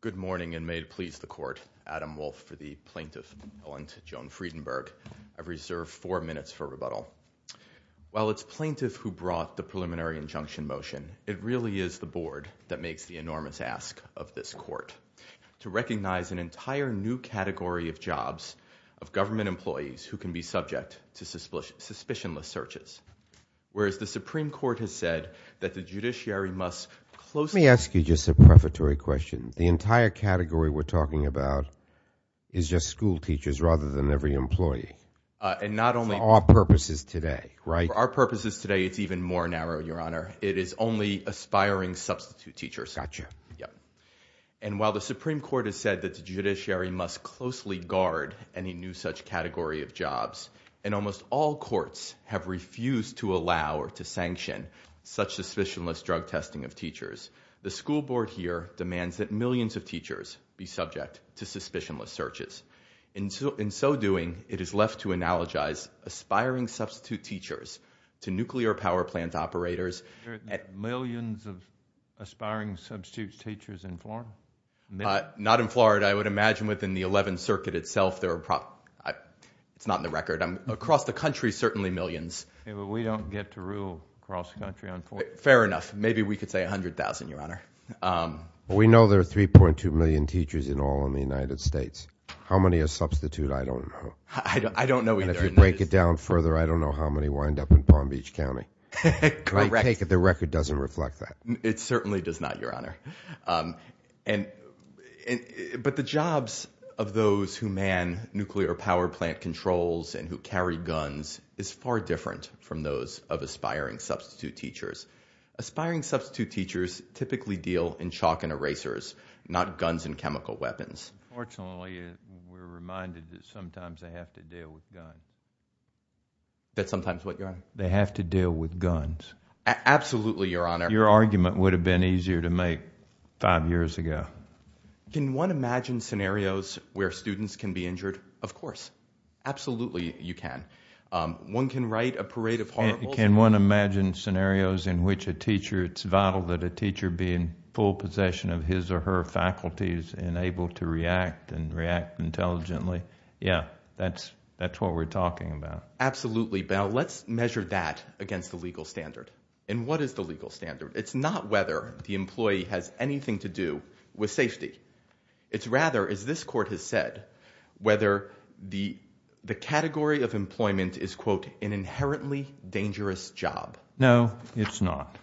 Good morning and may it please the court, Adam Wolfe for the Plaintiff Appellant Joan Friedenberg. I reserve four minutes for rebuttal. While it's plaintiff who brought the preliminary injunction motion, it really is the board that makes the enormous ask of this court to recognize an entire new category of jobs of government employees who can be subject to suspicionless searches. Whereas the Supreme Court has said that the judiciary must closely Let me ask you just a prefatory question. The entire category we're talking about is just school teachers rather than every employee. For our purposes today, it's even more narrow, your honor. It is only aspiring substitute teachers. And while the Supreme Court has said that the judiciary must closely guard any new such category of jobs, and almost all courts have refused to allow or to sanction such suspicionless drug testing of teachers, the school board here demands that millions of teachers be subject to suspicionless searches. In so doing, it is left to analogize aspiring substitute teachers to nuclear power plant Millions of aspiring substitute teachers in Florida? Not in Florida. I would imagine within the 11th Circuit itself, there are probably, it's not in the record. Across the country, certainly millions. We don't get to rule across the country, unfortunately. Fair enough. Maybe we could say 100,000, your honor. We know there are 3.2 million teachers in all in the United States. How many are substitute? I don't know. I don't know either. Break it down further, I don't know how many wind up in Palm Beach County. Correct. The record doesn't reflect that. It certainly does not, your honor. But the jobs of those who man nuclear power plant controls and who carry guns is far different from those of aspiring substitute teachers. Aspiring substitute teachers typically deal in chalk and erasers, not guns and chemical weapons. Unfortunately, we're reminded that sometimes they have to deal with guns. That sometimes what, your honor? They have to deal with guns. Absolutely, your honor. Your argument would have been easier to make five years ago. Can one imagine scenarios where students can be injured? Of course. Absolutely, you can. One can write a parade of horribles. Can one imagine scenarios in which a teacher, it's vital that a teacher be in full possession of his or her faculties and able to react and react intelligently? Yeah, that's what we're talking about. Absolutely. Now let's measure that against the legal standard. And what is the legal standard? It's not whether the employee has anything to do with safety. It's rather, as this court has said, whether the category of employment is, quote, an inherently dangerous job. No, it's not.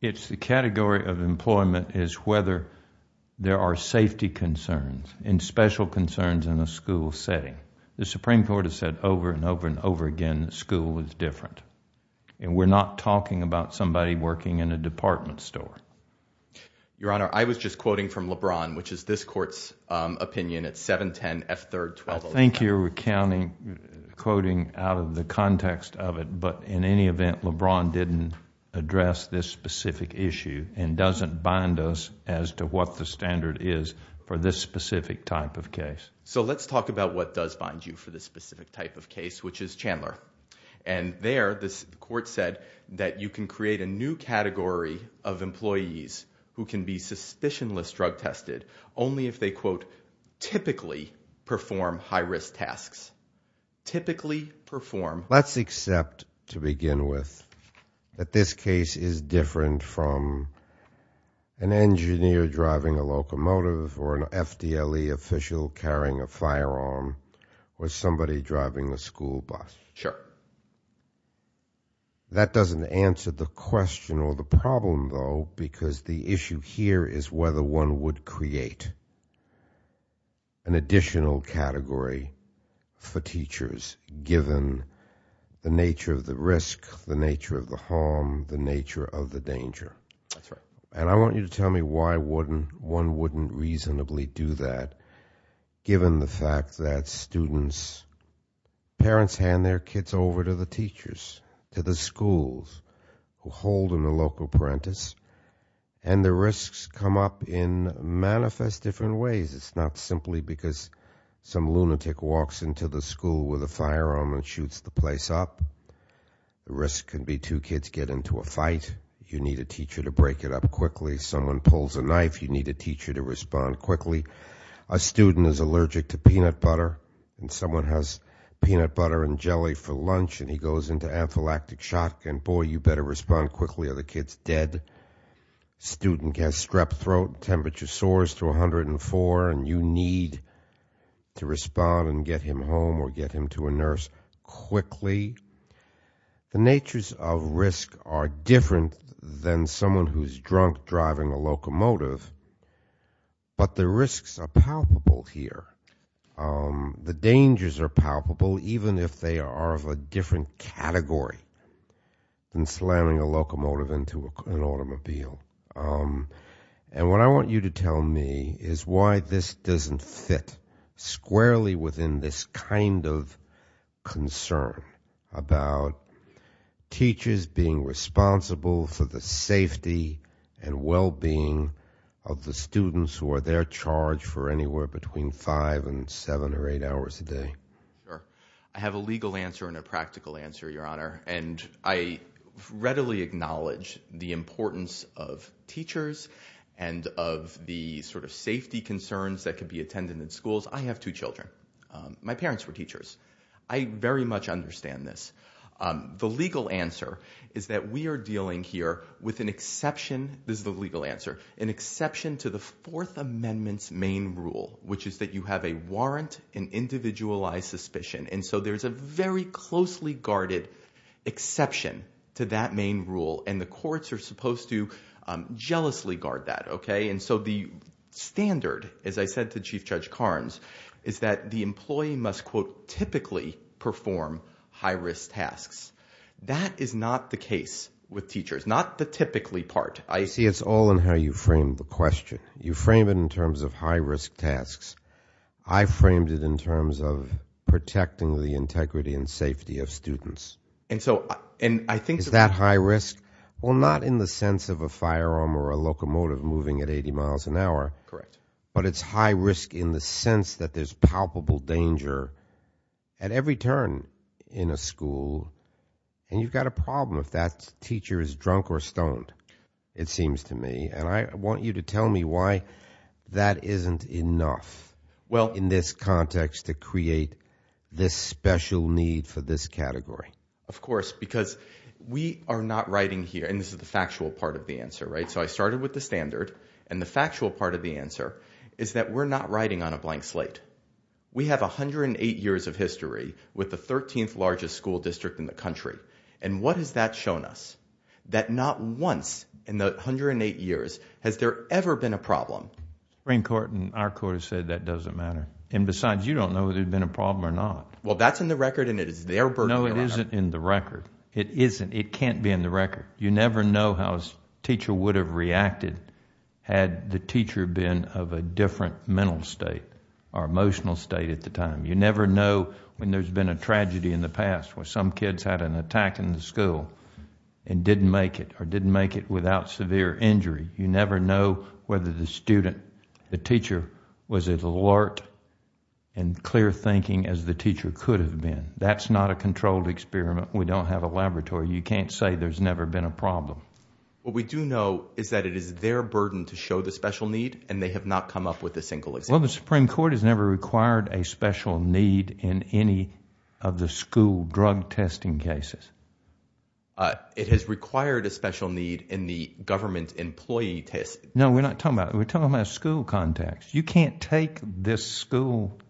It's the category of employment is whether there are safety concerns and special concerns in a school setting. The Supreme Court has said over and over and over again that school is different. And we're not talking about somebody working in a department store. Your honor, I was just quoting from LeBron, which is this court's opinion. It's 7-10 F-3-12-0-9. I think you're quoting out of the context of it. But in any event, LeBron didn't address this specific issue and doesn't bind us as to what the standard is for this specific type of case. So let's talk about what does bind you for this specific type of case, which is Chandler. And there, this court said that you can create a new category of employees who can be suspicionless drug tested only if they, quote, typically perform high-risk tasks. Typically perform. Let's accept, to begin with, that this case is different from an engineer driving a locomotive or an FDLE official carrying a firearm or somebody driving a school bus. Sure. That doesn't answer the question or the problem, though, because the issue here is whether one would create an additional category for teachers given the nature of the risk, the nature of the harm, the nature of the danger. That's right. And I want you to tell me why one wouldn't reasonably do that given the fact that students, parents hand their kids over to the teachers, to the schools who hold them a local apprentice, and the risks come up in manifest different ways. It's not simply because some lunatic walks into the school with a firearm and shoots the place up. The risk can be two kids get into a fight, you need a teacher to break it up quickly. Someone pulls a knife, you need a teacher to respond quickly. A student is allergic to peanut butter and someone has peanut butter and jelly for lunch and he goes into anaphylactic shock and boy, you better respond quickly or the kid's dead. Student has strep throat, temperature soars to 104 and you need to respond and get him home or get him to a nurse quickly. The natures of risk are different than someone who's drunk driving a locomotive, but the risks are palpable here. The dangers are palpable even if they are of a different category than slamming a locomotive into an automobile. And what I want you to tell me is why this doesn't fit squarely within this kind of concern. About teachers being responsible for the safety and safety concerns that can be attended in schools, I have two children. My parents were teachers. I very much understand this. The legal answer is that we are dealing here with an exception, this is the legal answer, an exception to the Fourth Amendment's main rule, which is that you have a warrant and individualized suspicion. And so there's a very closely guarded exception to that main rule and the courts are supposed to jealously guard that, okay? And so the standard, as I said to Chief Judge Carnes, is that the employee must quote, typically perform high risk tasks. That is not the case with teachers, not the typically part. I see it's all in how you frame the question. You frame it in terms of high risk tasks. I framed it in terms of protecting the integrity and safety of students. And so, and I think- Is that high risk? Well, not in the sense of a firearm or a locomotive moving at 80 miles an hour. Correct. But it's high risk in the sense that there's palpable danger at every turn in a school. And you've got a problem if that teacher is drunk or stoned, it seems to me. And I want you to tell me why that isn't enough in this context to create this special need for this category. Of course, because we are not writing here, and this is the factual part of the answer, right? So I started with the standard, and the factual part of the answer is that we're not writing on a blank slate. We have 108 years of history with the 13th largest school district in the country. And what has that shown us? That not once in the 108 years has there ever been a problem. Supreme Court and our court have said that doesn't matter. And besides, you don't know if there's been a problem or not. Well, that's in the record and it is their burden. No, it isn't in the record. It isn't. It can't be in the record. You never know how a teacher would have reacted had the teacher been of a different mental state, or emotional state at the time. You never know when there's been a tragedy in the past where some kids had an attack in the school and didn't make it, or didn't make it without severe injury. You never know whether the student, the teacher, was as alert and clear thinking as the teacher could have been. That's not a controlled experiment. We don't have a laboratory. You can't say there's never been a problem. What we do know is that it is their burden to show the special need, and they have not come up with a single example. Well, the Supreme Court has never required a special need in any of the school drug testing cases. It has required a special need in the government employee test. No, we're not talking about it. We're talking about a school context. You can't take this school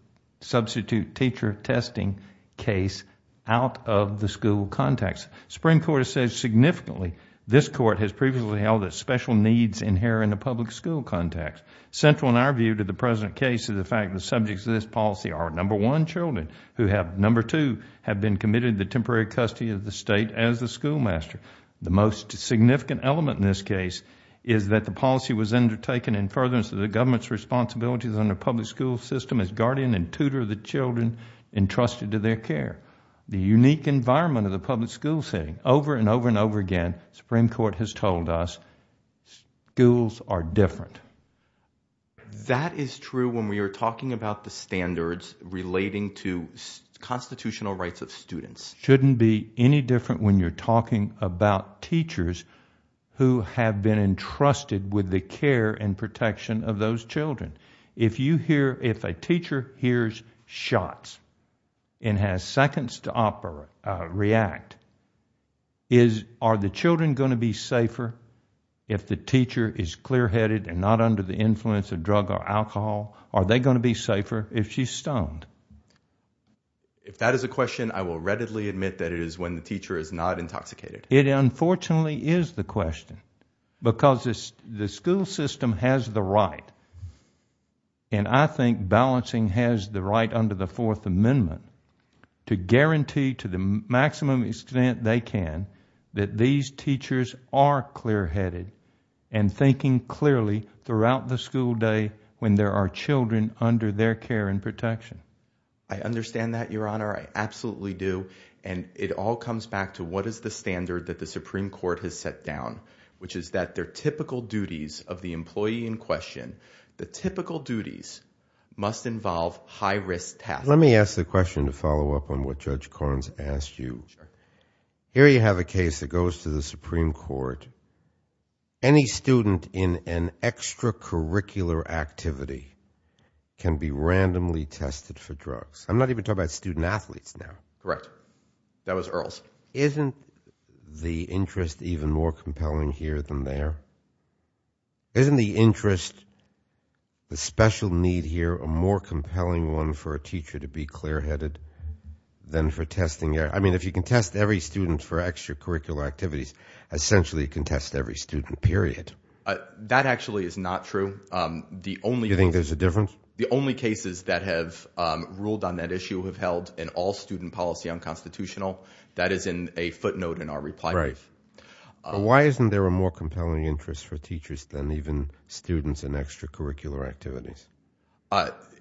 substitute teacher testing case out of the school context. Supreme Court has said significantly, this court has previously held that special needs inherit in the public school context. Central in our view to the present case is the fact the subjects of this policy are, number one, children, who have, number two, have been committed to the temporary custody of the state as the schoolmaster. The most significant element in this case is that the policy was undertaken in furtherance of the government's responsibilities on the public school system as guardian and tutor of the children entrusted to their care. The unique environment of the public school setting, over and over and over again, Supreme Court has told us schools are different. That is true when we are talking about the standards relating to constitutional rights of students. Shouldn't be any different when you're talking about teachers who have been entrusted with the care and protection of those children. If you hear, if a teacher hears shots and has seconds to react, are the children going to be safer if the teacher is clear-headed and not under the influence of drug or alcohol? Are they going to be safer if she's stoned? If that is a question, I will readily admit that it is when the teacher is not intoxicated. It unfortunately is the question because the school system has the right, and I think balancing has the right under the Fourth Amendment, to guarantee to the maximum extent they can that these teachers are clear-headed and thinking clearly throughout the school day when there are children under their care and protection. I understand that, Your Honor. I absolutely do. And it all comes back to what is the standard that the Supreme Court has set down, which is that their typical duties of the employee in question, the typical duties must involve high-risk tasks. Let me ask the question to follow up on what Judge Carnes asked you. Here you have a case that goes to the Supreme Court any student in an extracurricular activity can be randomly tested for drugs. I'm not even talking about student-athletes now. Correct. That was Earls. Isn't the interest even more compelling here than there? Isn't the interest, the special need here, a more compelling one for a teacher to be clear-headed than for testing? I mean, if you can test every student for extracurricular activities, essentially you can test every student, period. That actually is not true. Do you think there's a difference? The only cases that have ruled on that issue have held an all-student policy unconstitutional. That is in a footnote in our reply brief. Why isn't there a more compelling interest for teachers than even students in extracurricular activities?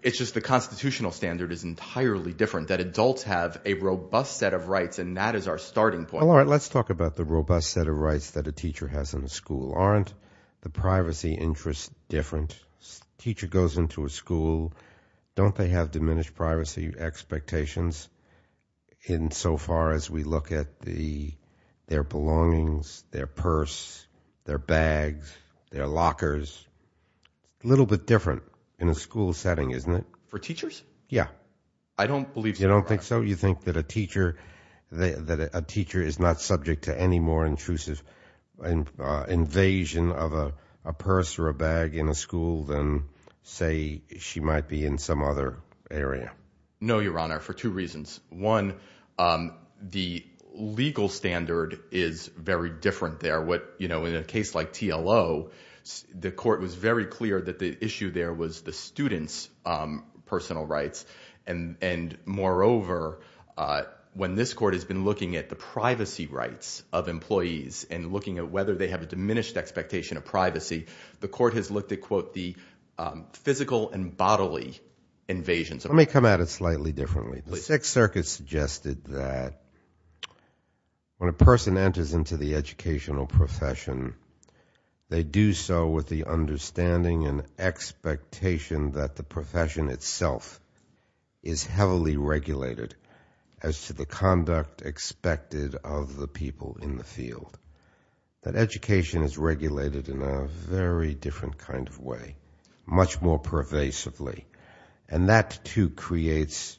It's just the constitutional standard is entirely different, that adults have a robust set of rights. And that is our starting point. Let's talk about the robust set of rights that a teacher has in a school. Aren't the privacy interests different? Teacher goes into a school, don't they have diminished privacy expectations insofar as we look at their belongings, their purse, their bags, their lockers? A little bit different in a school setting, isn't it? For teachers? Yeah. I don't believe so. You don't think so? You think that a teacher is not subject to any more intrusive invasion of a purse or a bag in a school than, say, she might be in some other area? No, Your Honor, for two reasons. One, the legal standard is very different there. In a case like TLO, the court was very clear that the issue there was the student's personal rights, and moreover, when this court has been looking at the privacy rights of employees and looking at whether they have a diminished expectation of privacy, the court has looked at, quote, the physical and bodily invasions. Let me come at it slightly differently. The Sixth Circuit suggested that when a person enters into the educational profession, they do so with the understanding and expectation that the profession itself is heavily regulated as to the conduct expected of the people in the field, that education is regulated in a very different kind of way, much more pervasively, and that, too, creates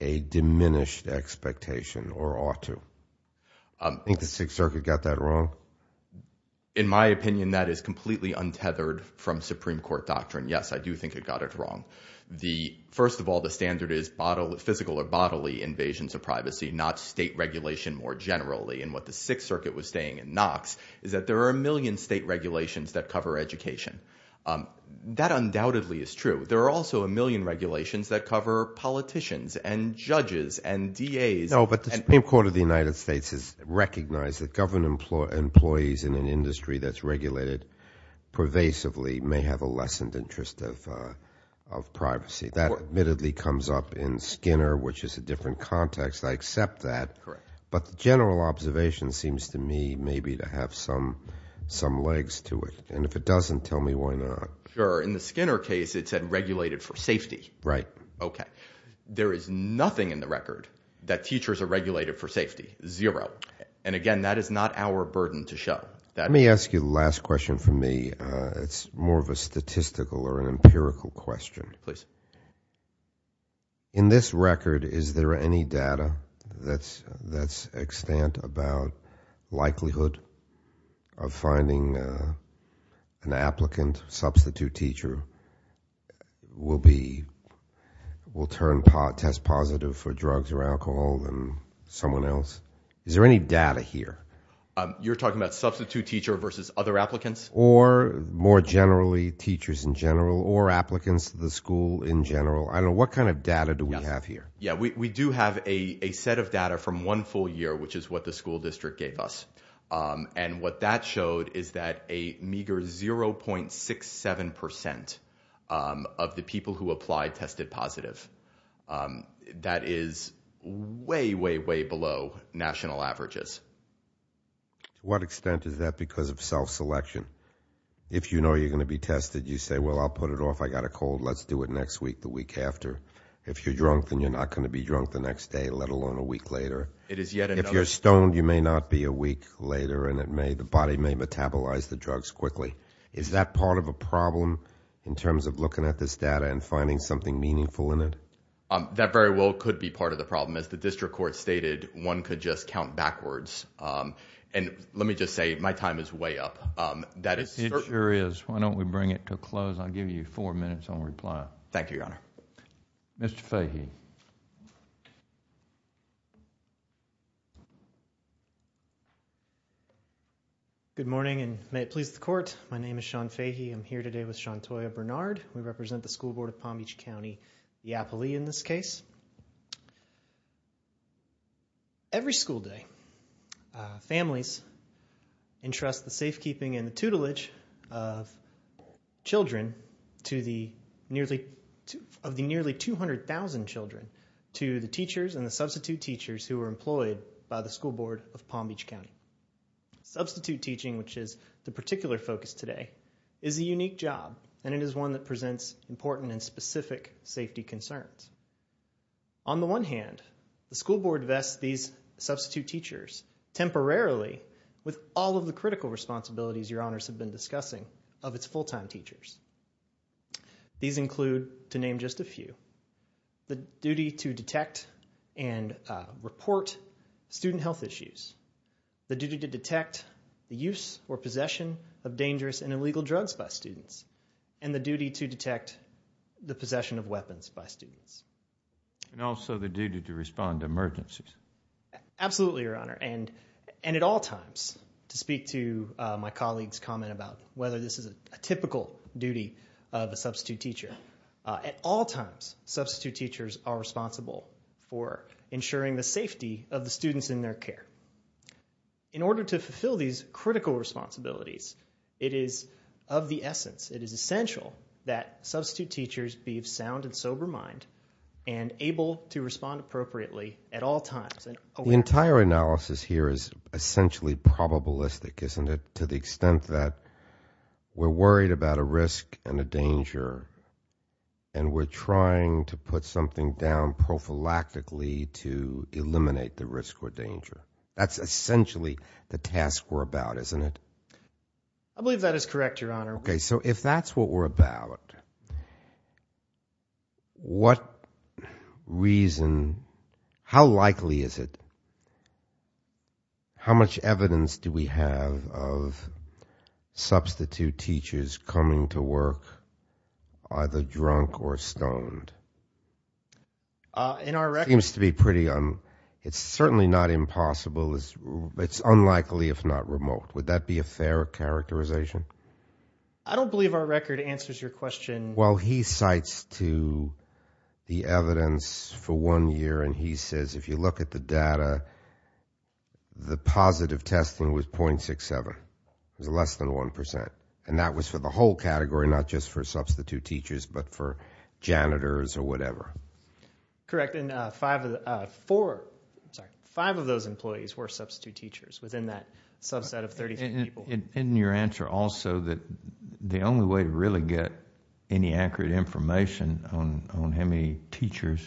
a diminished expectation or ought to. I think the Sixth Circuit got that wrong. In my opinion, that is completely untethered from Supreme Court doctrine. Yes, I do think it got it wrong. First of all, the standard is physical or bodily invasions of privacy, not state regulation more generally. And what the Sixth Circuit was saying in Knox is that there are a million state regulations that cover education. That undoubtedly is true. There are also a million regulations that cover politicians and judges and DAs. The Supreme Court of the United States has recognized that government employees in an industry that's regulated pervasively may have a lessened interest of privacy. That admittedly comes up in Skinner, which is a different context. I accept that. But the general observation seems to me maybe to have some legs to it. And if it doesn't, tell me why not. In the Skinner case, it said regulated for safety. Right. OK, there is nothing in the record that teachers are regulated for safety. Zero. And again, that is not our burden to show that. Let me ask you the last question for me. It's more of a statistical or an empirical question, please. In this record, is there any data that's extant about likelihood of finding an applicant, substitute teacher, will test positive for drugs or alcohol than someone else? Is there any data here? You're talking about substitute teacher versus other applicants? Or more generally, teachers in general or applicants to the school in general. I don't know. What kind of data do we have here? Yeah, we do have a set of data from one full year, which is what the school district gave us. And what that showed is that a meager 0.67 percent of the people who applied tested positive. That is way, way, way below national averages. To what extent is that because of self-selection? If you know you're going to be tested, you say, well, I'll put it off. I got a cold. Let's do it next week, the week after. If you're drunk, then you're not going to be drunk the next day, let alone a week later. If you're stoned, you may not be a week later and the body may metabolize the drugs quickly. Is that part of a problem in terms of looking at this data and finding something meaningful in it? That very well could be part of the problem. As the district court stated, one could just count backwards. Let me just say, my time is way up. It sure is. Why don't we bring it to a close? I'll give you four minutes on reply. Thank you, Your Honor. Mr. Fahy. Good morning, and may it please the court. My name is Sean Fahy. I'm here today with Shontoya Bernard. We represent the School Board of Palm Beach County, Iapoli in this case. Every school day, families entrust the safekeeping and the tutelage of children of the nearly 200,000 children to the teachers and the substitute teachers who are employed by the School Board of Palm Beach County. Substitute teaching, which is the particular focus today, is a unique job, and it is one that presents important and specific safety concerns. On the one hand, the School Board vests these substitute teachers temporarily with all of the critical responsibilities Your Honors have been discussing of its full-time teachers. These include, to name just a few, the duty to detect and report student health issues, the duty to detect the use or possession of dangerous and illegal drugs by students, and the duty to detect the possession of weapons by students. And also the duty to respond to emergencies. Absolutely, Your Honor. And at all times, to speak to my colleague's comment about whether this is a typical duty of a substitute teacher, at all times, substitute teachers are responsible for ensuring the safety of the students in their care. In order to fulfill these critical responsibilities, it is of the essence, it is essential that substitute teachers be of sound and sober mind and able to respond appropriately at all times. The entire analysis here is essentially probabilistic, isn't it, to the extent that we're worried about a risk and a danger and we're trying to put something down prophylactically to eliminate the risk or danger. That's essentially the task we're about, isn't it? I believe that is correct, Your Honor. Okay, so if that's what we're about, what reason, how likely is it, how much evidence do we have of substitute teachers coming to work either drunk or stoned? In our record... Seems to be pretty, it's certainly not impossible, it's unlikely if not remote. Would that be a fair characterization? I don't believe our record answers your question. Well, he cites to the evidence for one year and he says, if you look at the data, the positive testing was 0.67. It was less than 1% and that was for the whole category, not just for substitute teachers, but for janitors or whatever. Correct, and five of those employees were substitute teachers within that subset of 30 people. And your answer also that the only way to really get any accurate information on how many teachers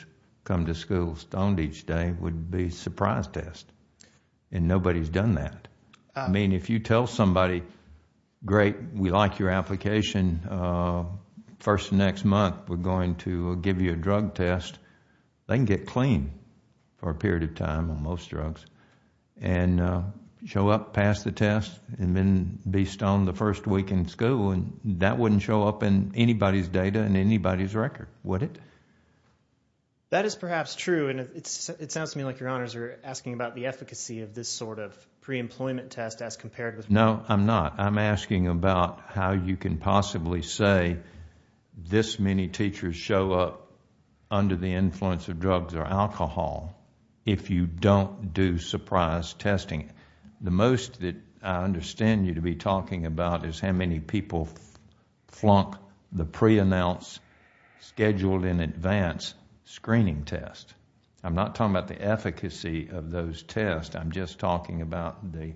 come to school stoned each day would be surprise test. And nobody's done that. I mean, if you tell somebody, great, we like your application, first next month we're going to give you a drug test, they can get clean for a period of time on most drugs and show up, pass the test, and then be stoned the first week in school. And that wouldn't show up in anybody's data and anybody's record, would it? That is perhaps true. It sounds to me like your honors are asking about the efficacy of this sort of pre-employment test as compared with... No, I'm not. I'm asking about how you can possibly say this many teachers show up under the influence of drugs or alcohol if you don't do surprise testing. The most that I understand you to be talking about is how many people flunk the pre-announced scheduled in advance screening test. I'm not talking about the efficacy of those tests. I'm just talking about the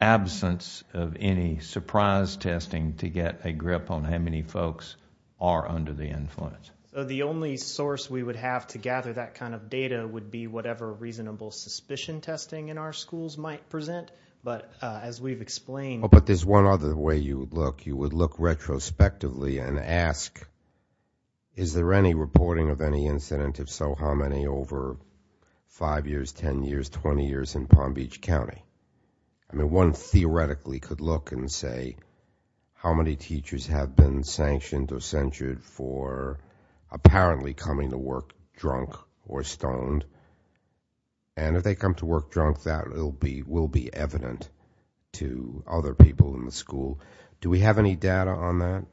absence of any surprise testing to get a grip on how many folks are under the influence. The only source we would have to gather that kind of data would be whatever reasonable suspicion testing in our schools might present. But as we've explained... One other way you would look, you would look retrospectively and ask, is there any reporting of any incident? If so, how many over five years, 10 years, 20 years in Palm Beach County? I mean, one theoretically could look and say, how many teachers have been sanctioned or censured for apparently coming to work drunk or stoned? And if they come to work drunk, that will be evident to other people in the school. Do we have any data on that?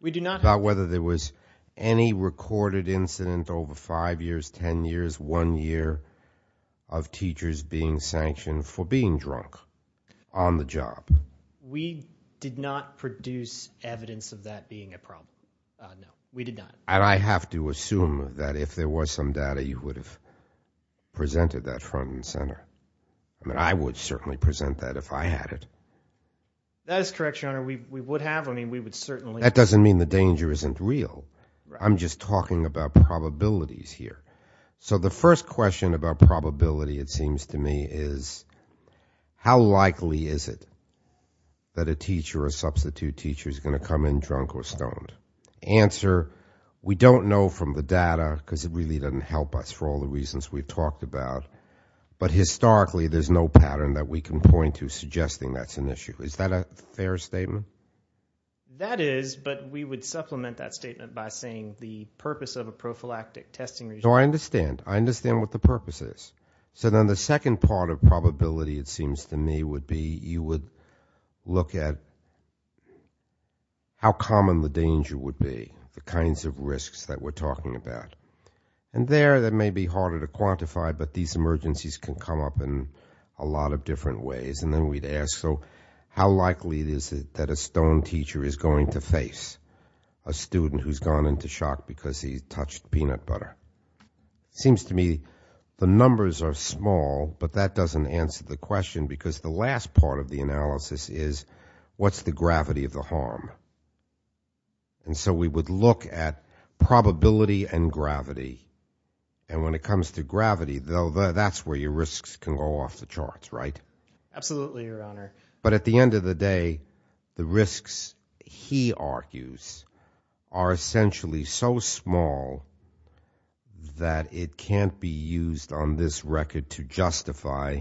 We do not. About whether there was any recorded incident over five years, 10 years, one year of teachers being sanctioned for being drunk on the job. We did not produce evidence of that being a problem. No, we did not. And I have to assume that if there was some data, you would have presented that front and center. I mean, I would certainly present that if I had it. That is correct, your honor. We would have. I mean, we would certainly... That doesn't mean the danger isn't real. I'm just talking about probabilities here. So the first question about probability, it seems to me, is how likely is it that a teacher or substitute teacher is going to come in drunk or stoned? Answer, we don't know from the data because it really doesn't help us for all the reasons we've talked about. But historically, there's no pattern that we can point to suggesting that's an issue. Is that a fair statement? That is, but we would supplement that statement by saying the purpose of a prophylactic testing... So I understand. I understand what the purpose is. So then the second part of probability, it seems to me, would be you would look at how common the danger would be, the kinds of risks that we're talking about. And there, that may be harder to quantify, but these emergencies can come up in a lot of different ways. And then we'd ask, so how likely is it that a stoned teacher is going to face a student who's gone into shock because he touched peanut butter? Seems to me, the numbers are small, but that doesn't answer the question because the last part of the analysis is what's the gravity of the harm? And so we would look at probability and gravity. And when it comes to gravity, though, that's where your risks can go off the charts, right? Absolutely, Your Honor. But at the end of the day, the risks he argues are essentially so small that it can't be used on this record to justify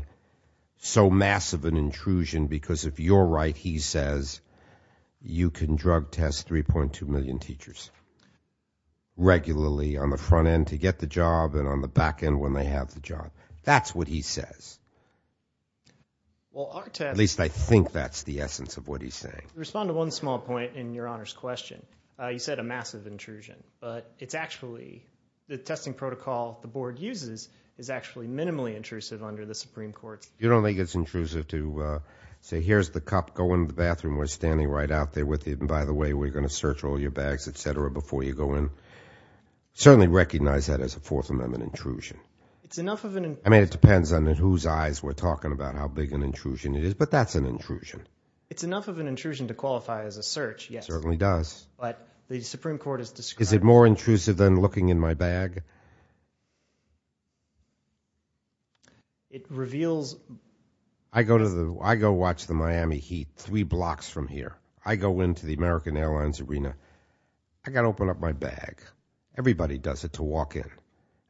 so massive an intrusion, because if you're right, he says, you can drug test 3.2 million teachers regularly on the front end to get the job and on the back end when they have the job. That's what he says. At least I think that's the essence of what he's saying. I'll respond to one small point in Your Honor's question. You said a massive intrusion. But it's actually the testing protocol the board uses is actually minimally intrusive under the Supreme Court. You don't think it's intrusive to say, here's the cup. Go in the bathroom. We're standing right out there with you. And by the way, we're going to search all your bags, et cetera, before you go in. Certainly recognize that as a Fourth Amendment intrusion. It's enough of an intrusion. I mean, it depends on whose eyes we're talking about, how big an intrusion it is. But that's an intrusion. It's enough of an intrusion to qualify as a search, yes. Certainly does. But the Supreme Court has described it. Is it more intrusive than looking in my bag? It reveals. I go watch the Miami Heat three blocks from here. I go into the American Airlines arena. I got to open up my bag. Everybody does it to walk in.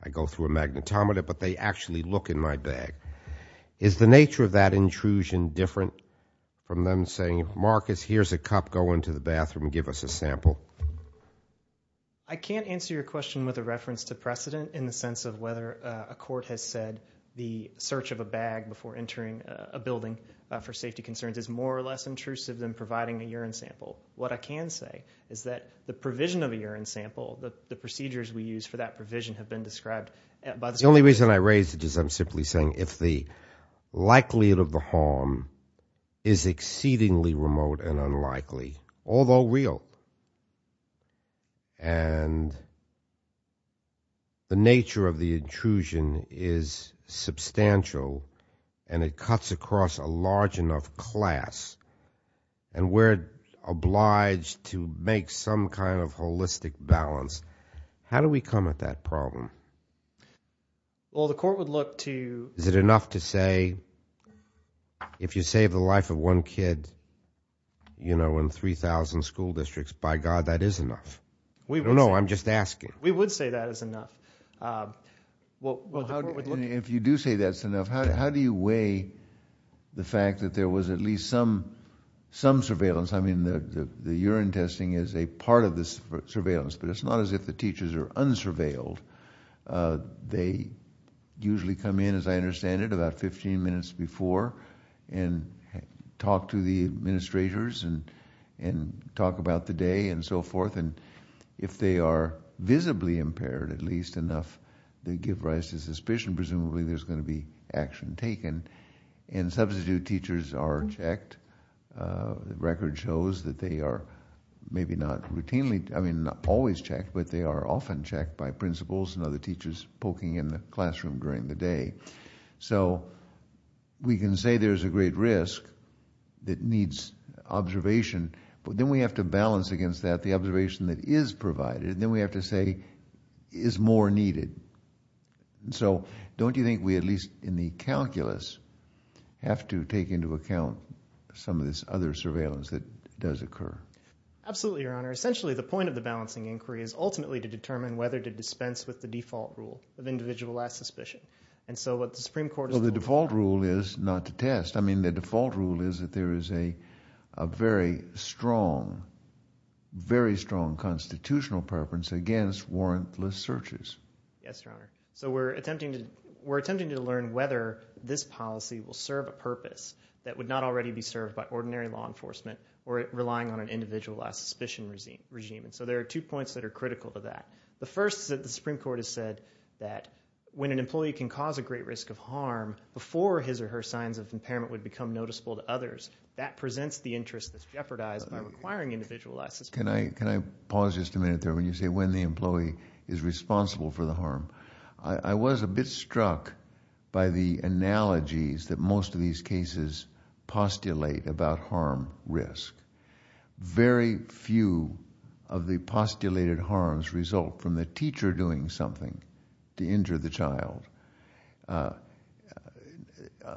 I go through a magnetometer. But they actually look in my bag. Is the nature of that intrusion different from them saying, Marcus, here's a cup. Go into the bathroom. Give us a sample. I can't answer your question with a reference to precedent in the sense of whether a court has said the search of a bag before entering a building for safety concerns is more or less intrusive than providing a urine sample. What I can say is that the provision of a urine sample, the procedures we use for that provision have been described by the Supreme Court. The only reason I raised it is I'm simply saying if the likelihood of the harm is exceedingly remote and unlikely, although real, and the nature of the intrusion is substantial and it cuts across a large enough class and we're obliged to make some kind of holistic balance, how do we come at that problem? Well, the court would look to. Is it enough to say if you save the life of one kid in 3,000 school districts, by God, that is enough? No, I'm just asking. We would say that is enough. If you do say that's enough, how do you weigh the fact that there was at least some surveillance? I mean, the urine testing is a part of this surveillance. But it's not as if the teachers are unsurveilled. They usually come in, as I understand it, about 15 minutes before and talk to the administrators and talk about the day and so forth. And if they are visibly impaired, at least enough to give rise to suspicion, presumably there's going to be action taken. And substitute teachers are checked. The record shows that they are maybe not routinely, I mean, not always checked, but they are often by principals and other teachers poking in the classroom during the day. So we can say there's a great risk that needs observation. But then we have to balance against that, the observation that is provided. And then we have to say, is more needed? So don't you think we, at least in the calculus, have to take into account some of this other surveillance that does occur? Absolutely, Your Honor. Essentially, the point of the balancing inquiry is ultimately to determine whether to dispense with the default rule of individualized suspicion. And so what the Supreme Court— Well, the default rule is not to test. I mean, the default rule is that there is a very strong, very strong constitutional preference against warrantless searches. Yes, Your Honor. So we're attempting to learn whether this policy will serve a purpose that would not already be served by ordinary law enforcement or relying on an individualized suspicion regime. And so there are two points that are critical to that. The first is that the Supreme Court has said that when an employee can cause a great risk of harm before his or her signs of impairment would become noticeable to others, that presents the interest that's jeopardized by requiring individualized suspicion. Can I pause just a minute there? When you say when the employee is responsible for the harm, I was a bit struck by the analogies that most of these cases postulate about harm risk. Very few of the postulated harms result from the teacher doing something to injure the child,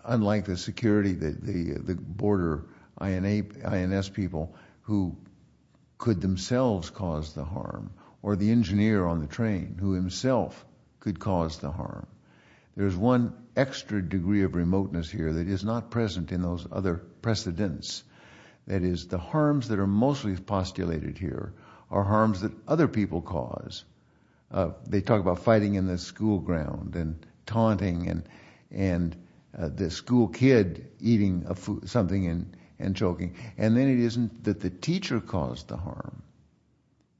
unlike the security, the border INS people who could themselves cause the harm or the engineer on the train who himself could cause the harm. There's one extra degree of remoteness here that is not present in those other precedents. That is, the harms that are mostly postulated here are harms that other people cause. They talk about fighting in the school ground and taunting and the school kid eating something and choking. And then it isn't that the teacher caused the harm.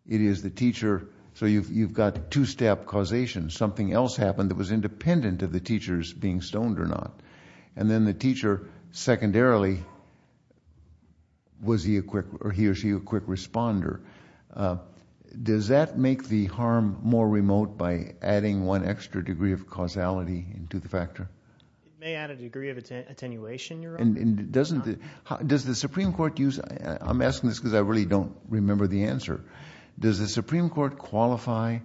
It is the teacher. So you've got two-step causation. Something else happened that was independent of the teachers being stoned or not. And then the teacher, secondarily, was he or she a quick responder. Does that make the harm more remote by adding one extra degree of causality into the factor? It may add a degree of attenuation, Your Honor. And does the Supreme Court use... I'm asking this because I really don't remember the answer. Does the Supreme Court qualify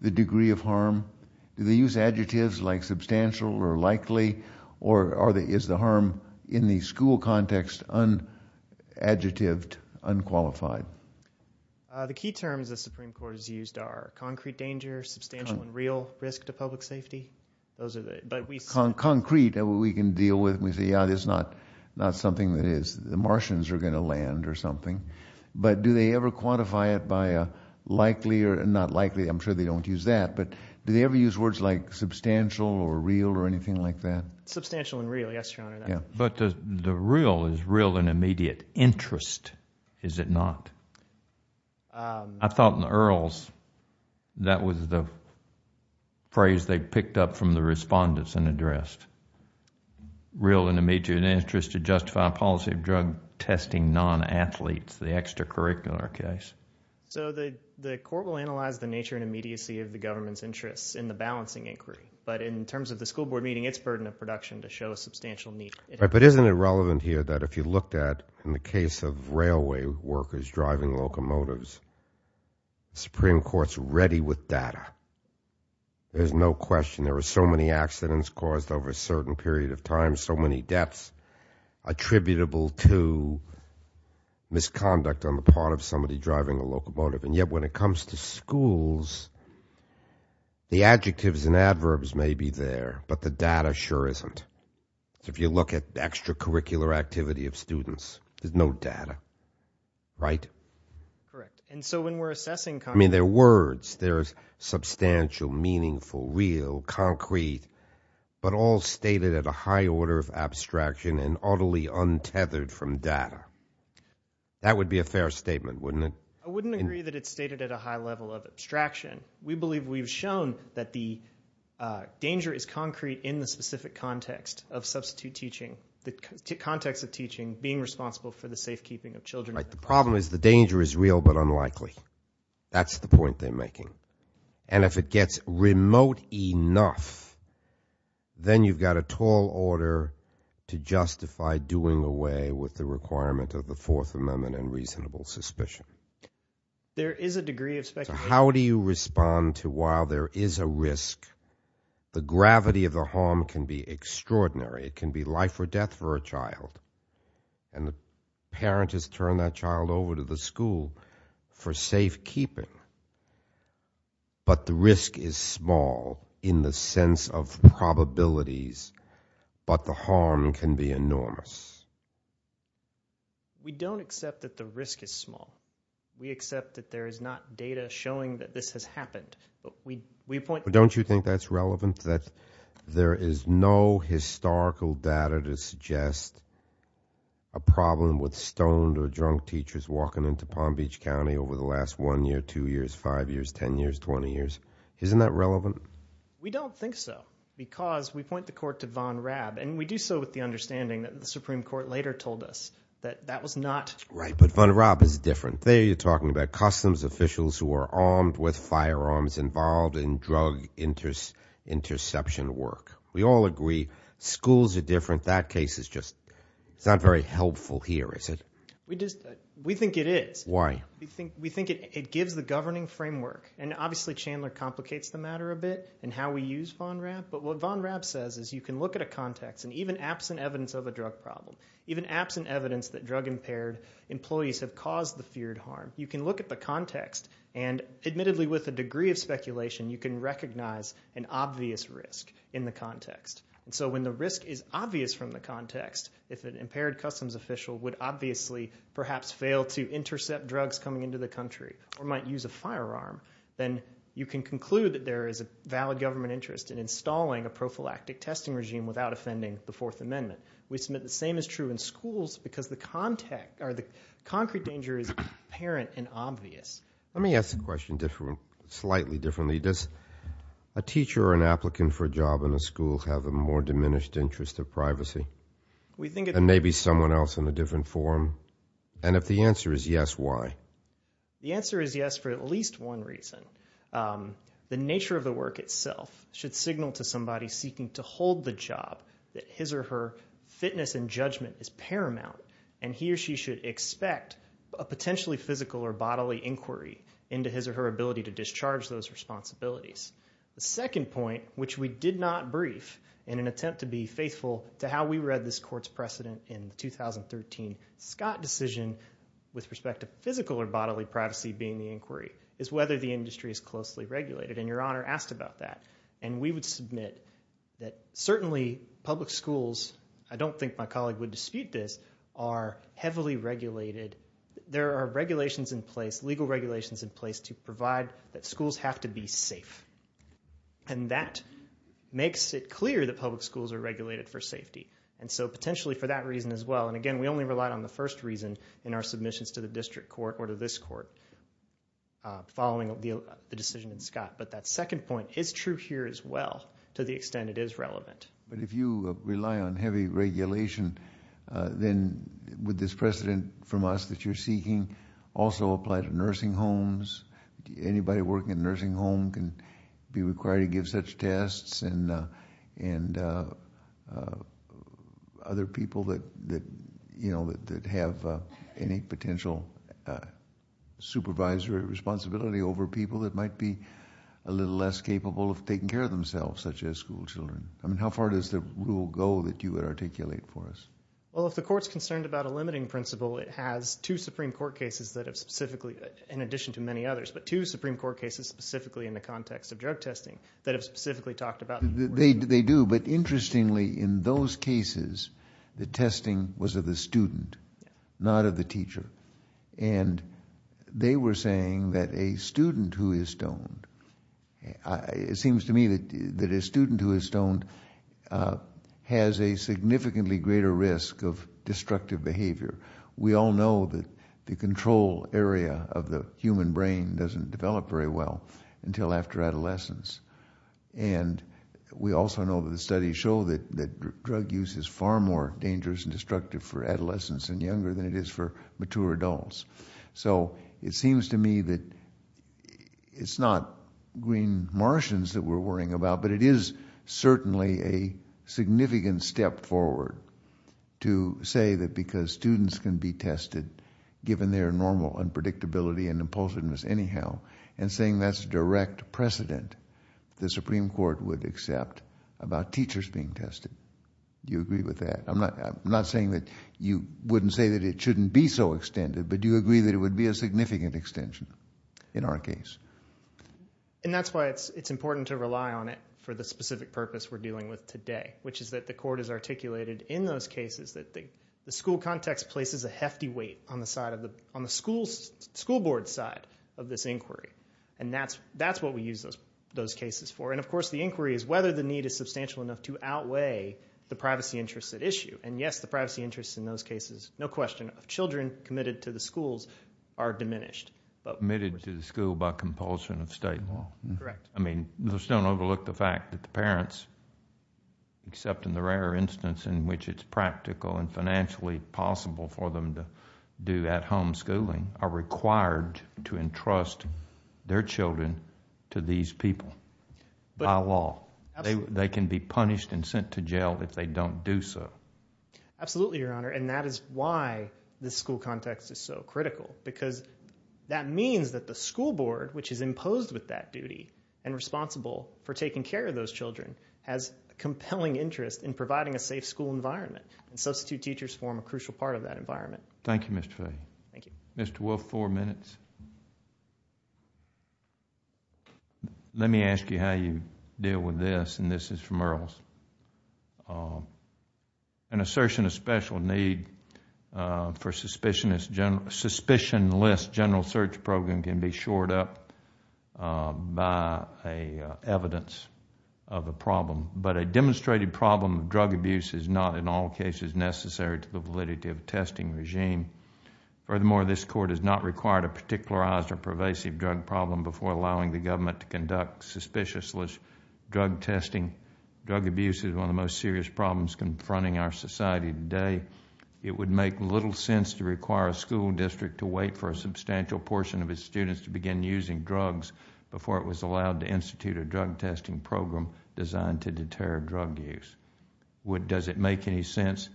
the degree of harm? Do they use adjectives like substantial or likely? Or is the harm in the school context unadjectived, unqualified? The key terms the Supreme Court has used are concrete danger, substantial and real risk to public safety. Concrete, we can deal with. We say, yeah, that's not something that the Martians are going to land or something. But do they ever quantify it by likely or not likely? I'm sure they don't use that. Do they ever use words like substantial or real or anything like that? Substantial and real, yes, Your Honor. But the real is real and immediate interest, is it not? I thought in the Earls that was the phrase they picked up from the respondents and addressed. Real and immediate interest to justify a policy of drug testing non-athletes, the extracurricular case. So the court will analyze the nature and immediacy of the government's interests in the balancing inquiry. But in terms of the school board meeting, it's burden of production to show a substantial need. But isn't it relevant here that if you looked at, in the case of railway workers driving locomotives, Supreme Court's ready with data. There's no question. There were so many accidents caused over a certain period of time, so many deaths attributable to misconduct on the part of somebody driving a locomotive. And yet when it comes to schools, the adjectives and adverbs may be there, but the data sure isn't. So if you look at the extracurricular activity of students, there's no data, right? Correct. And so when we're assessing- I mean, they're words. There's substantial, meaningful, real, concrete, but all stated at a high order of abstraction and utterly untethered from data. That would be a fair statement, wouldn't it? I wouldn't agree that it's stated at a high level of abstraction. We believe we've shown that the danger is concrete in the specific context of substitute teaching, the context of teaching, being responsible for the safekeeping of children. The problem is the danger is real but unlikely. That's the point they're making. And if it gets remote enough, then you've got a tall order to justify doing away with the requirement of the Fourth Amendment and reasonable suspicion. There is a degree of speculation- How do you respond to while there is a risk, the gravity of the harm can be extraordinary. It can be life or death for a child. And the parent has turned that child over to the school for safekeeping. But the risk is small in the sense of probabilities. But the harm can be enormous. We don't accept that the risk is small. We accept that there is not data showing that this has happened. But we point- Don't you think that's relevant? That there is no historical data to suggest a problem with stoned or drunk teachers walking into Palm Beach County over the last one year, two years, five years, 10 years, 20 years? Isn't that relevant? We don't think so because we point the court to Von Raab and we do so with the understanding that the Supreme Court later told us that that was not- Right, but Von Raab is different. There you're talking about customs officials who are armed with firearms involved in drug interception work. We all agree schools are different. That case is just- It's not very helpful here, is it? We just- We think it is. Why? We think it gives the governing framework. And obviously, Chandler complicates the matter a bit in how we use Von Raab. But what Von Raab says is you can look at a context and even absent evidence of a drug problem, even absent evidence that drug-impaired employees have caused the feared harm, you can look at the context. And admittedly, with a degree of speculation, you can recognize an obvious risk in the context. And so when the risk is obvious from the context, if an impaired customs official would obviously perhaps fail to intercept drugs coming into the country or might use a firearm, then you can conclude that there is a valid government interest in installing a prophylactic testing regime without offending the Fourth Amendment. We submit the same is true in schools because the concrete danger is apparent and obvious. Let me ask the question slightly differently. Does a teacher or an applicant for a job in a school have a more diminished interest of privacy? And maybe someone else in a different forum? And if the answer is yes, why? The answer is yes for at least one reason. The nature of the work itself should signal to somebody seeking to hold the job that his or her fitness and judgment is paramount and he or she should expect a potentially physical or bodily inquiry into his or her ability to discharge those responsibilities. The second point, which we did not brief in an attempt to be faithful to how we read this court's precedent in 2013, Scott decision with respect to physical or bodily privacy being the inquiry is whether the industry is closely regulated. And Your Honor asked about that. And we would submit that certainly public schools, I don't think my colleague would dispute this, are heavily regulated. There are regulations in place, legal regulations in place to provide that schools have to be safe. And that makes it clear that public schools are regulated for safety. And so potentially for that reason as well, and again, we only relied on the first reason in our submissions to the district court or to this court following the decision in Scott. But that second point is true here as well, to the extent it is relevant. But if you rely on heavy regulation, then would this precedent from us that you're seeking also apply to nursing homes? Anybody working in a nursing home can be required to give such tests and other people that have any potential supervisory responsibility over people that might be a little less capable of taking care of themselves, such as school children. I mean, how far does the rule go that you would articulate for us? Well, if the court's concerned about a limiting principle, it has two Supreme Court cases that have specifically, in addition to many others, but two Supreme Court cases specifically in the context of drug testing that have specifically talked about- They do. But interestingly, in those cases, the testing was of the student, not of the teacher. And they were saying that a student who is stoned, it seems to me that a student who is stoned has a significantly greater risk of destructive behavior. We all know that the control area of the human brain doesn't develop very well until after adolescence. And we also know that the studies show that drug use is far more dangerous and destructive for adolescents and younger than it is for mature adults. So it seems to me that it's not green martians that we're worrying about, but it is certainly a significant step forward to say that because students can be tested given their normal unpredictability and impulsiveness anyhow, and saying that's a direct precedent, the Supreme Court would accept about teachers being tested. Do you agree with that? I'm not saying that you wouldn't say that it shouldn't be so extended, but do you agree that it would be a significant extension in our case? And that's why it's important to rely on it for the specific purpose we're dealing with today, which is that the court has articulated in those cases that the school context places a hefty weight on the school board's side of this inquiry. And that's what we use those cases for. And of course, the inquiry is whether the need is substantial enough to outweigh the privacy interests at issue. And yes, the privacy interests in those cases, no question, of children committed to the schools are diminished. But admitted to the school by compulsion of state law. Correct. I mean, let's don't overlook the fact that the parents, except in the rare instance in which it's practical and financially possible for them to do at-home schooling, are required to entrust their children to these people by law. They can be punished and sent to jail if they don't do so. Absolutely, Your Honor. And that is why this school context is so critical, because that means that the school board, which is imposed with that duty and responsible for taking care of those children, has a compelling interest in providing a safe school environment. And substitute teachers form a crucial part of that environment. Thank you, Mr. Fay. Thank you. Mr. Wolf, four minutes. Let me ask you how you deal with this. And this is from Earl's. An assertion of special need for suspicionless general search program can be shored up by evidence of a problem. But a demonstrated problem of drug abuse is not in all cases necessary to the validity of testing regime. Furthermore, this court has not required a particularized or pervasive drug problem before allowing the government to conduct suspiciously drug testing. Drug abuse is one of the most serious problems confronting our society today. It would make little sense to require a school district to wait for a substantial portion of its students to begin using drugs before it was allowed to institute a drug testing program designed to deter drug use. Does it make any sense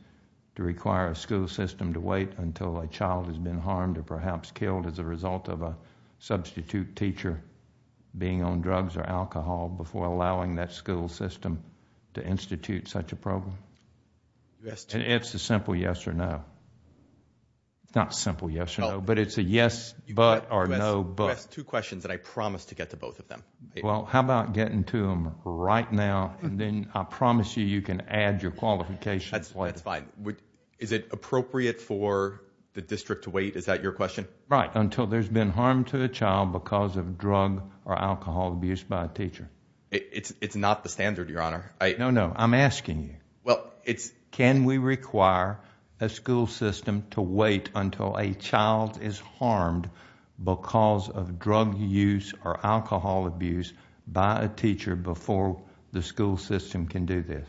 to require a school system to wait until a child has been harmed or perhaps killed as a result of a substitute teacher being on drugs or alcohol before allowing that school system to institute such a program? It's a simple yes or no. Not simple yes or no, but it's a yes but or no but. You asked two questions that I promised to get to both of them. Well, how about getting to them right now and then I promise you you can add your qualifications. That's fine. Is it appropriate for the district to wait? Is that your question? Right, until there's been harm to a child because of drug or alcohol abuse by a teacher. It's not the standard, your honor. No, no, I'm asking you. Well, it's... Can we require a school system to wait until a child is harmed because of drug use or alcohol abuse by a teacher before the school system can do this?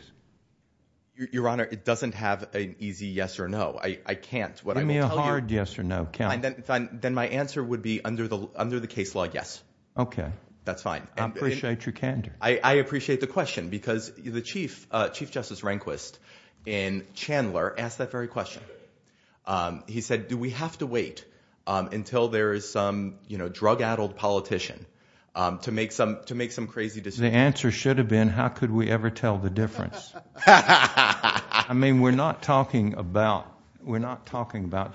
Your honor, it doesn't have an easy yes or no. I can't. Give me a hard yes or no count. Then my answer would be under the case law, yes. Okay. That's fine. I appreciate your candor. I appreciate the question because the Chief Justice Rehnquist in Chandler asked that very question. He said, do we have to wait until there is some, you know, drug-addled politician to make some crazy decisions? The answer should have been, how could we ever tell the difference? I mean, we're not talking about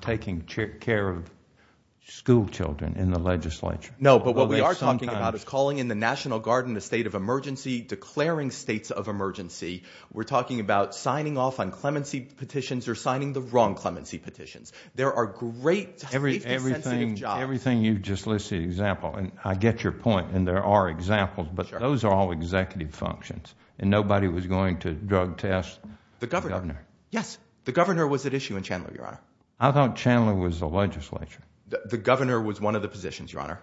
taking care of school children in the legislature. No, but what we are talking about is calling in the National Guard in a state of emergency, declaring states of emergency. We're talking about signing off on clemency petitions or signing the wrong clemency petitions. There are great safety-sensitive jobs. Everything you've just listed, example, and I get your point and there are examples, but those are all executive functions and nobody was going to drug test the governor. Yes. The governor was at issue in Chandler, your honor. I thought Chandler was the legislature. The governor was one of the positions, your honor.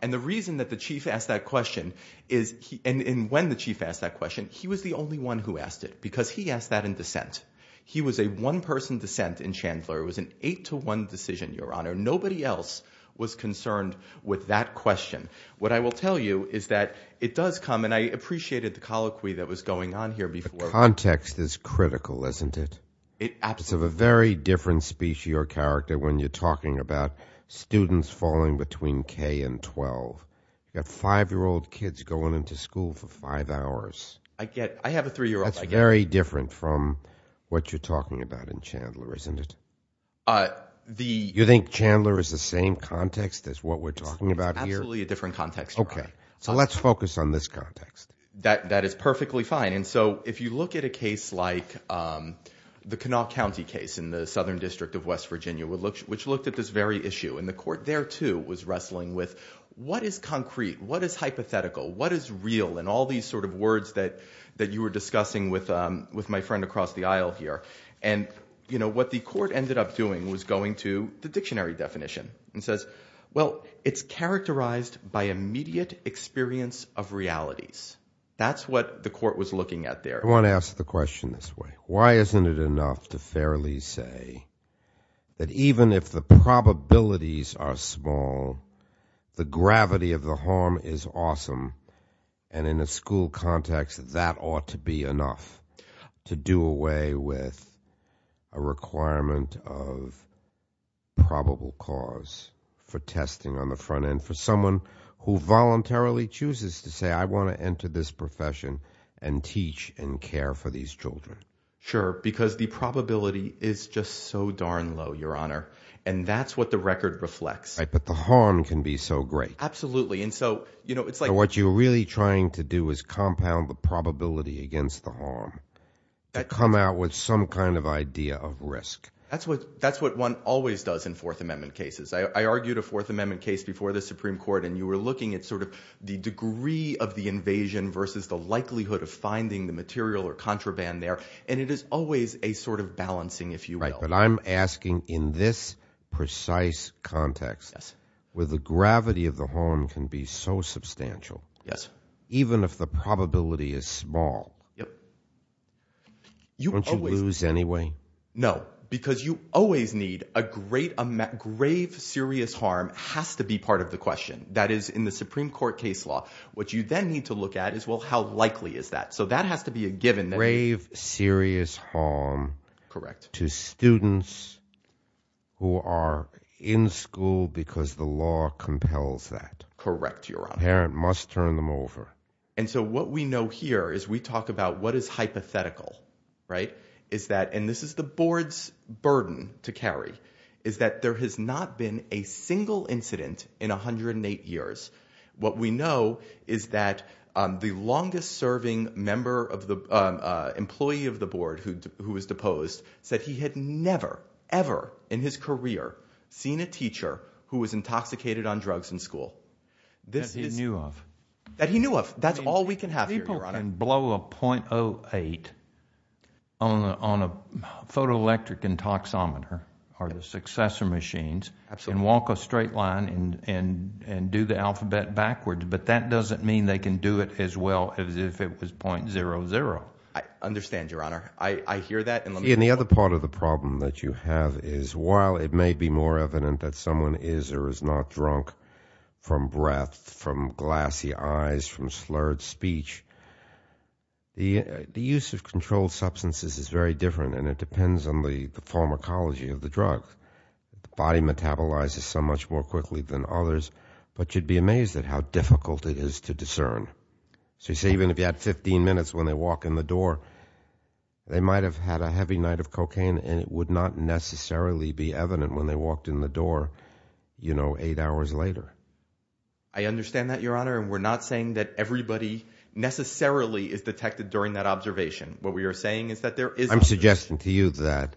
And the reason that the Chief asked that question is, and when the Chief asked that question, he was the only one who asked it because he asked that in dissent. He was a one-person dissent in Chandler. It was an eight-to-one decision, your honor. Nobody else was concerned with that question. What I will tell you is that it does come, and I appreciated the colloquy that was going on here before. The context is critical, isn't it? It absolutely is. It's of a very different species or character when you're talking about students falling between K and 12. You have five-year-old kids going into school for five hours. I have a three-year-old. That's very different from what you're talking about in Chandler, isn't it? You think Chandler is the same context as what we're talking about here? It's absolutely a different context, your honor. Okay. So let's focus on this context. That is perfectly fine. And so if you look at a case like the Kanawha County case in the Southern District of West Virginia, which looked at this very issue, and the court there, too, was wrestling with, what is concrete? What is hypothetical? What is real? And all these sort of words that you were discussing with my friend across the aisle here. And what the court ended up doing was going to the dictionary definition and says, well, it's characterized by immediate experience of realities. That's what the court was looking at there. I want to ask the question this way. Why isn't it enough to fairly say that even if the probabilities are small, the gravity of the harm is awesome and in a school context, that ought to be enough to do away with a requirement of probable cause for testing on the front end for someone who voluntarily chooses to say, I want to enter this profession and teach and care for these children? Sure. Because the probability is just so darn low, your honor. And that's what the record reflects. Right. But the harm can be so great. Absolutely. And so, you know, it's like... What you're really trying to do is compound the probability against the harm to come out with some kind of idea of risk. That's what one always does in Fourth Amendment cases. I argued a Fourth Amendment case before the Supreme Court, and you were looking at sort of the degree of the invasion versus the likelihood of finding the material or contraband there. And it is always a sort of balancing, if you will. Right. But I'm asking in this precise context, where the gravity of the harm can be so substantial. Yes. Even if the probability is small. Yep. Don't you lose anyway? No, because you always need a great amount... Grave, serious harm has to be part of the question. That is, in the Supreme Court case law, what you then need to look at is, well, how likely is that? So that has to be a given. Grave, serious harm... Correct. ...to students who are in school because the law compels that. Correct, Your Honor. Parent must turn them over. And so what we know here is we talk about what is hypothetical, right? Is that, and this is the board's burden to carry, is that there has not been a single incident in 108 years. What we know is that the longest serving employee of the board who was deposed said he had never, ever in his career seen a teacher who was intoxicated on drugs in school. That he knew of. That he knew of. That's all we can have here, Your Honor. People can blow a .08 on a photoelectric intoxometer or the successor machines... Absolutely. ...and walk a straight line and do the alphabet backwards, but that doesn't mean they can do it as well as if it was .00. I understand, Your Honor. I hear that and let me... See, and the other part of the problem that you have is, while it may be more evident that someone is or is not drunk from breath, from glassy eyes, from slurred speech, the use of controlled substances is very different and it depends on the pharmacology of the drug. The body metabolizes so much more quickly than others, but you'd be amazed at how difficult it is to discern. So you say even if you had 15 minutes when they walk in the door, they might have had a heavy night of cocaine and it would not necessarily be evident when they walked in the door, you know, eight hours later. I understand that, Your Honor, and we're not saying that everybody necessarily is detected during that observation. What we are saying is that there is... I'm suggesting to you that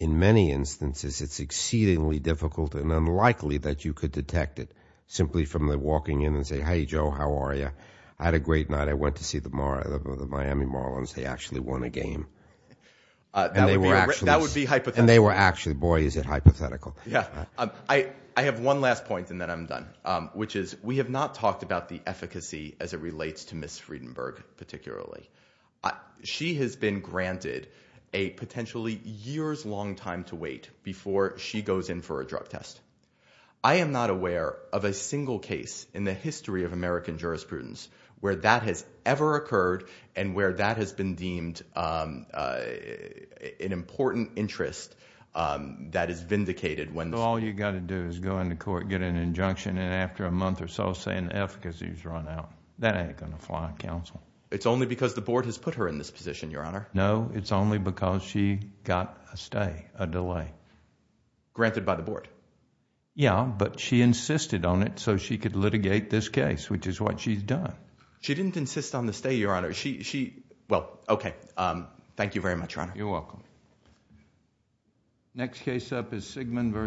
in many instances, it's exceedingly difficult and unlikely that you could detect it simply from the walking in and say, Hey, Joe, how are you? I had a great night. I went to see the Miami Marlins. They actually won a game. That would be hypothetical. And they were actually... Boy, is it hypothetical. Yeah, I have one last point and then I'm done, which is we have not talked about the efficacy as it relates to Ms. Friedenberg particularly. She has been granted a potentially years-long time to wait before she goes in for a drug test. I am not aware of a single case in the history of American jurisprudence where that has ever occurred and where that has been deemed an important interest that is vindicated when... All you got to do is go into court, get an injunction, and after a month or so say an efficacy has run out. That ain't going to fly on counsel. It's only because the board has put her in this position, Your Honor. No, it's only because she got a stay, a delay. Granted by the board. Yeah, but she insisted on it so she could litigate this case, which is what she's done. She didn't insist on the stay, Your Honor. Well, OK. Thank you very much, Your Honor. You're welcome. Next case up is Sigmund versus...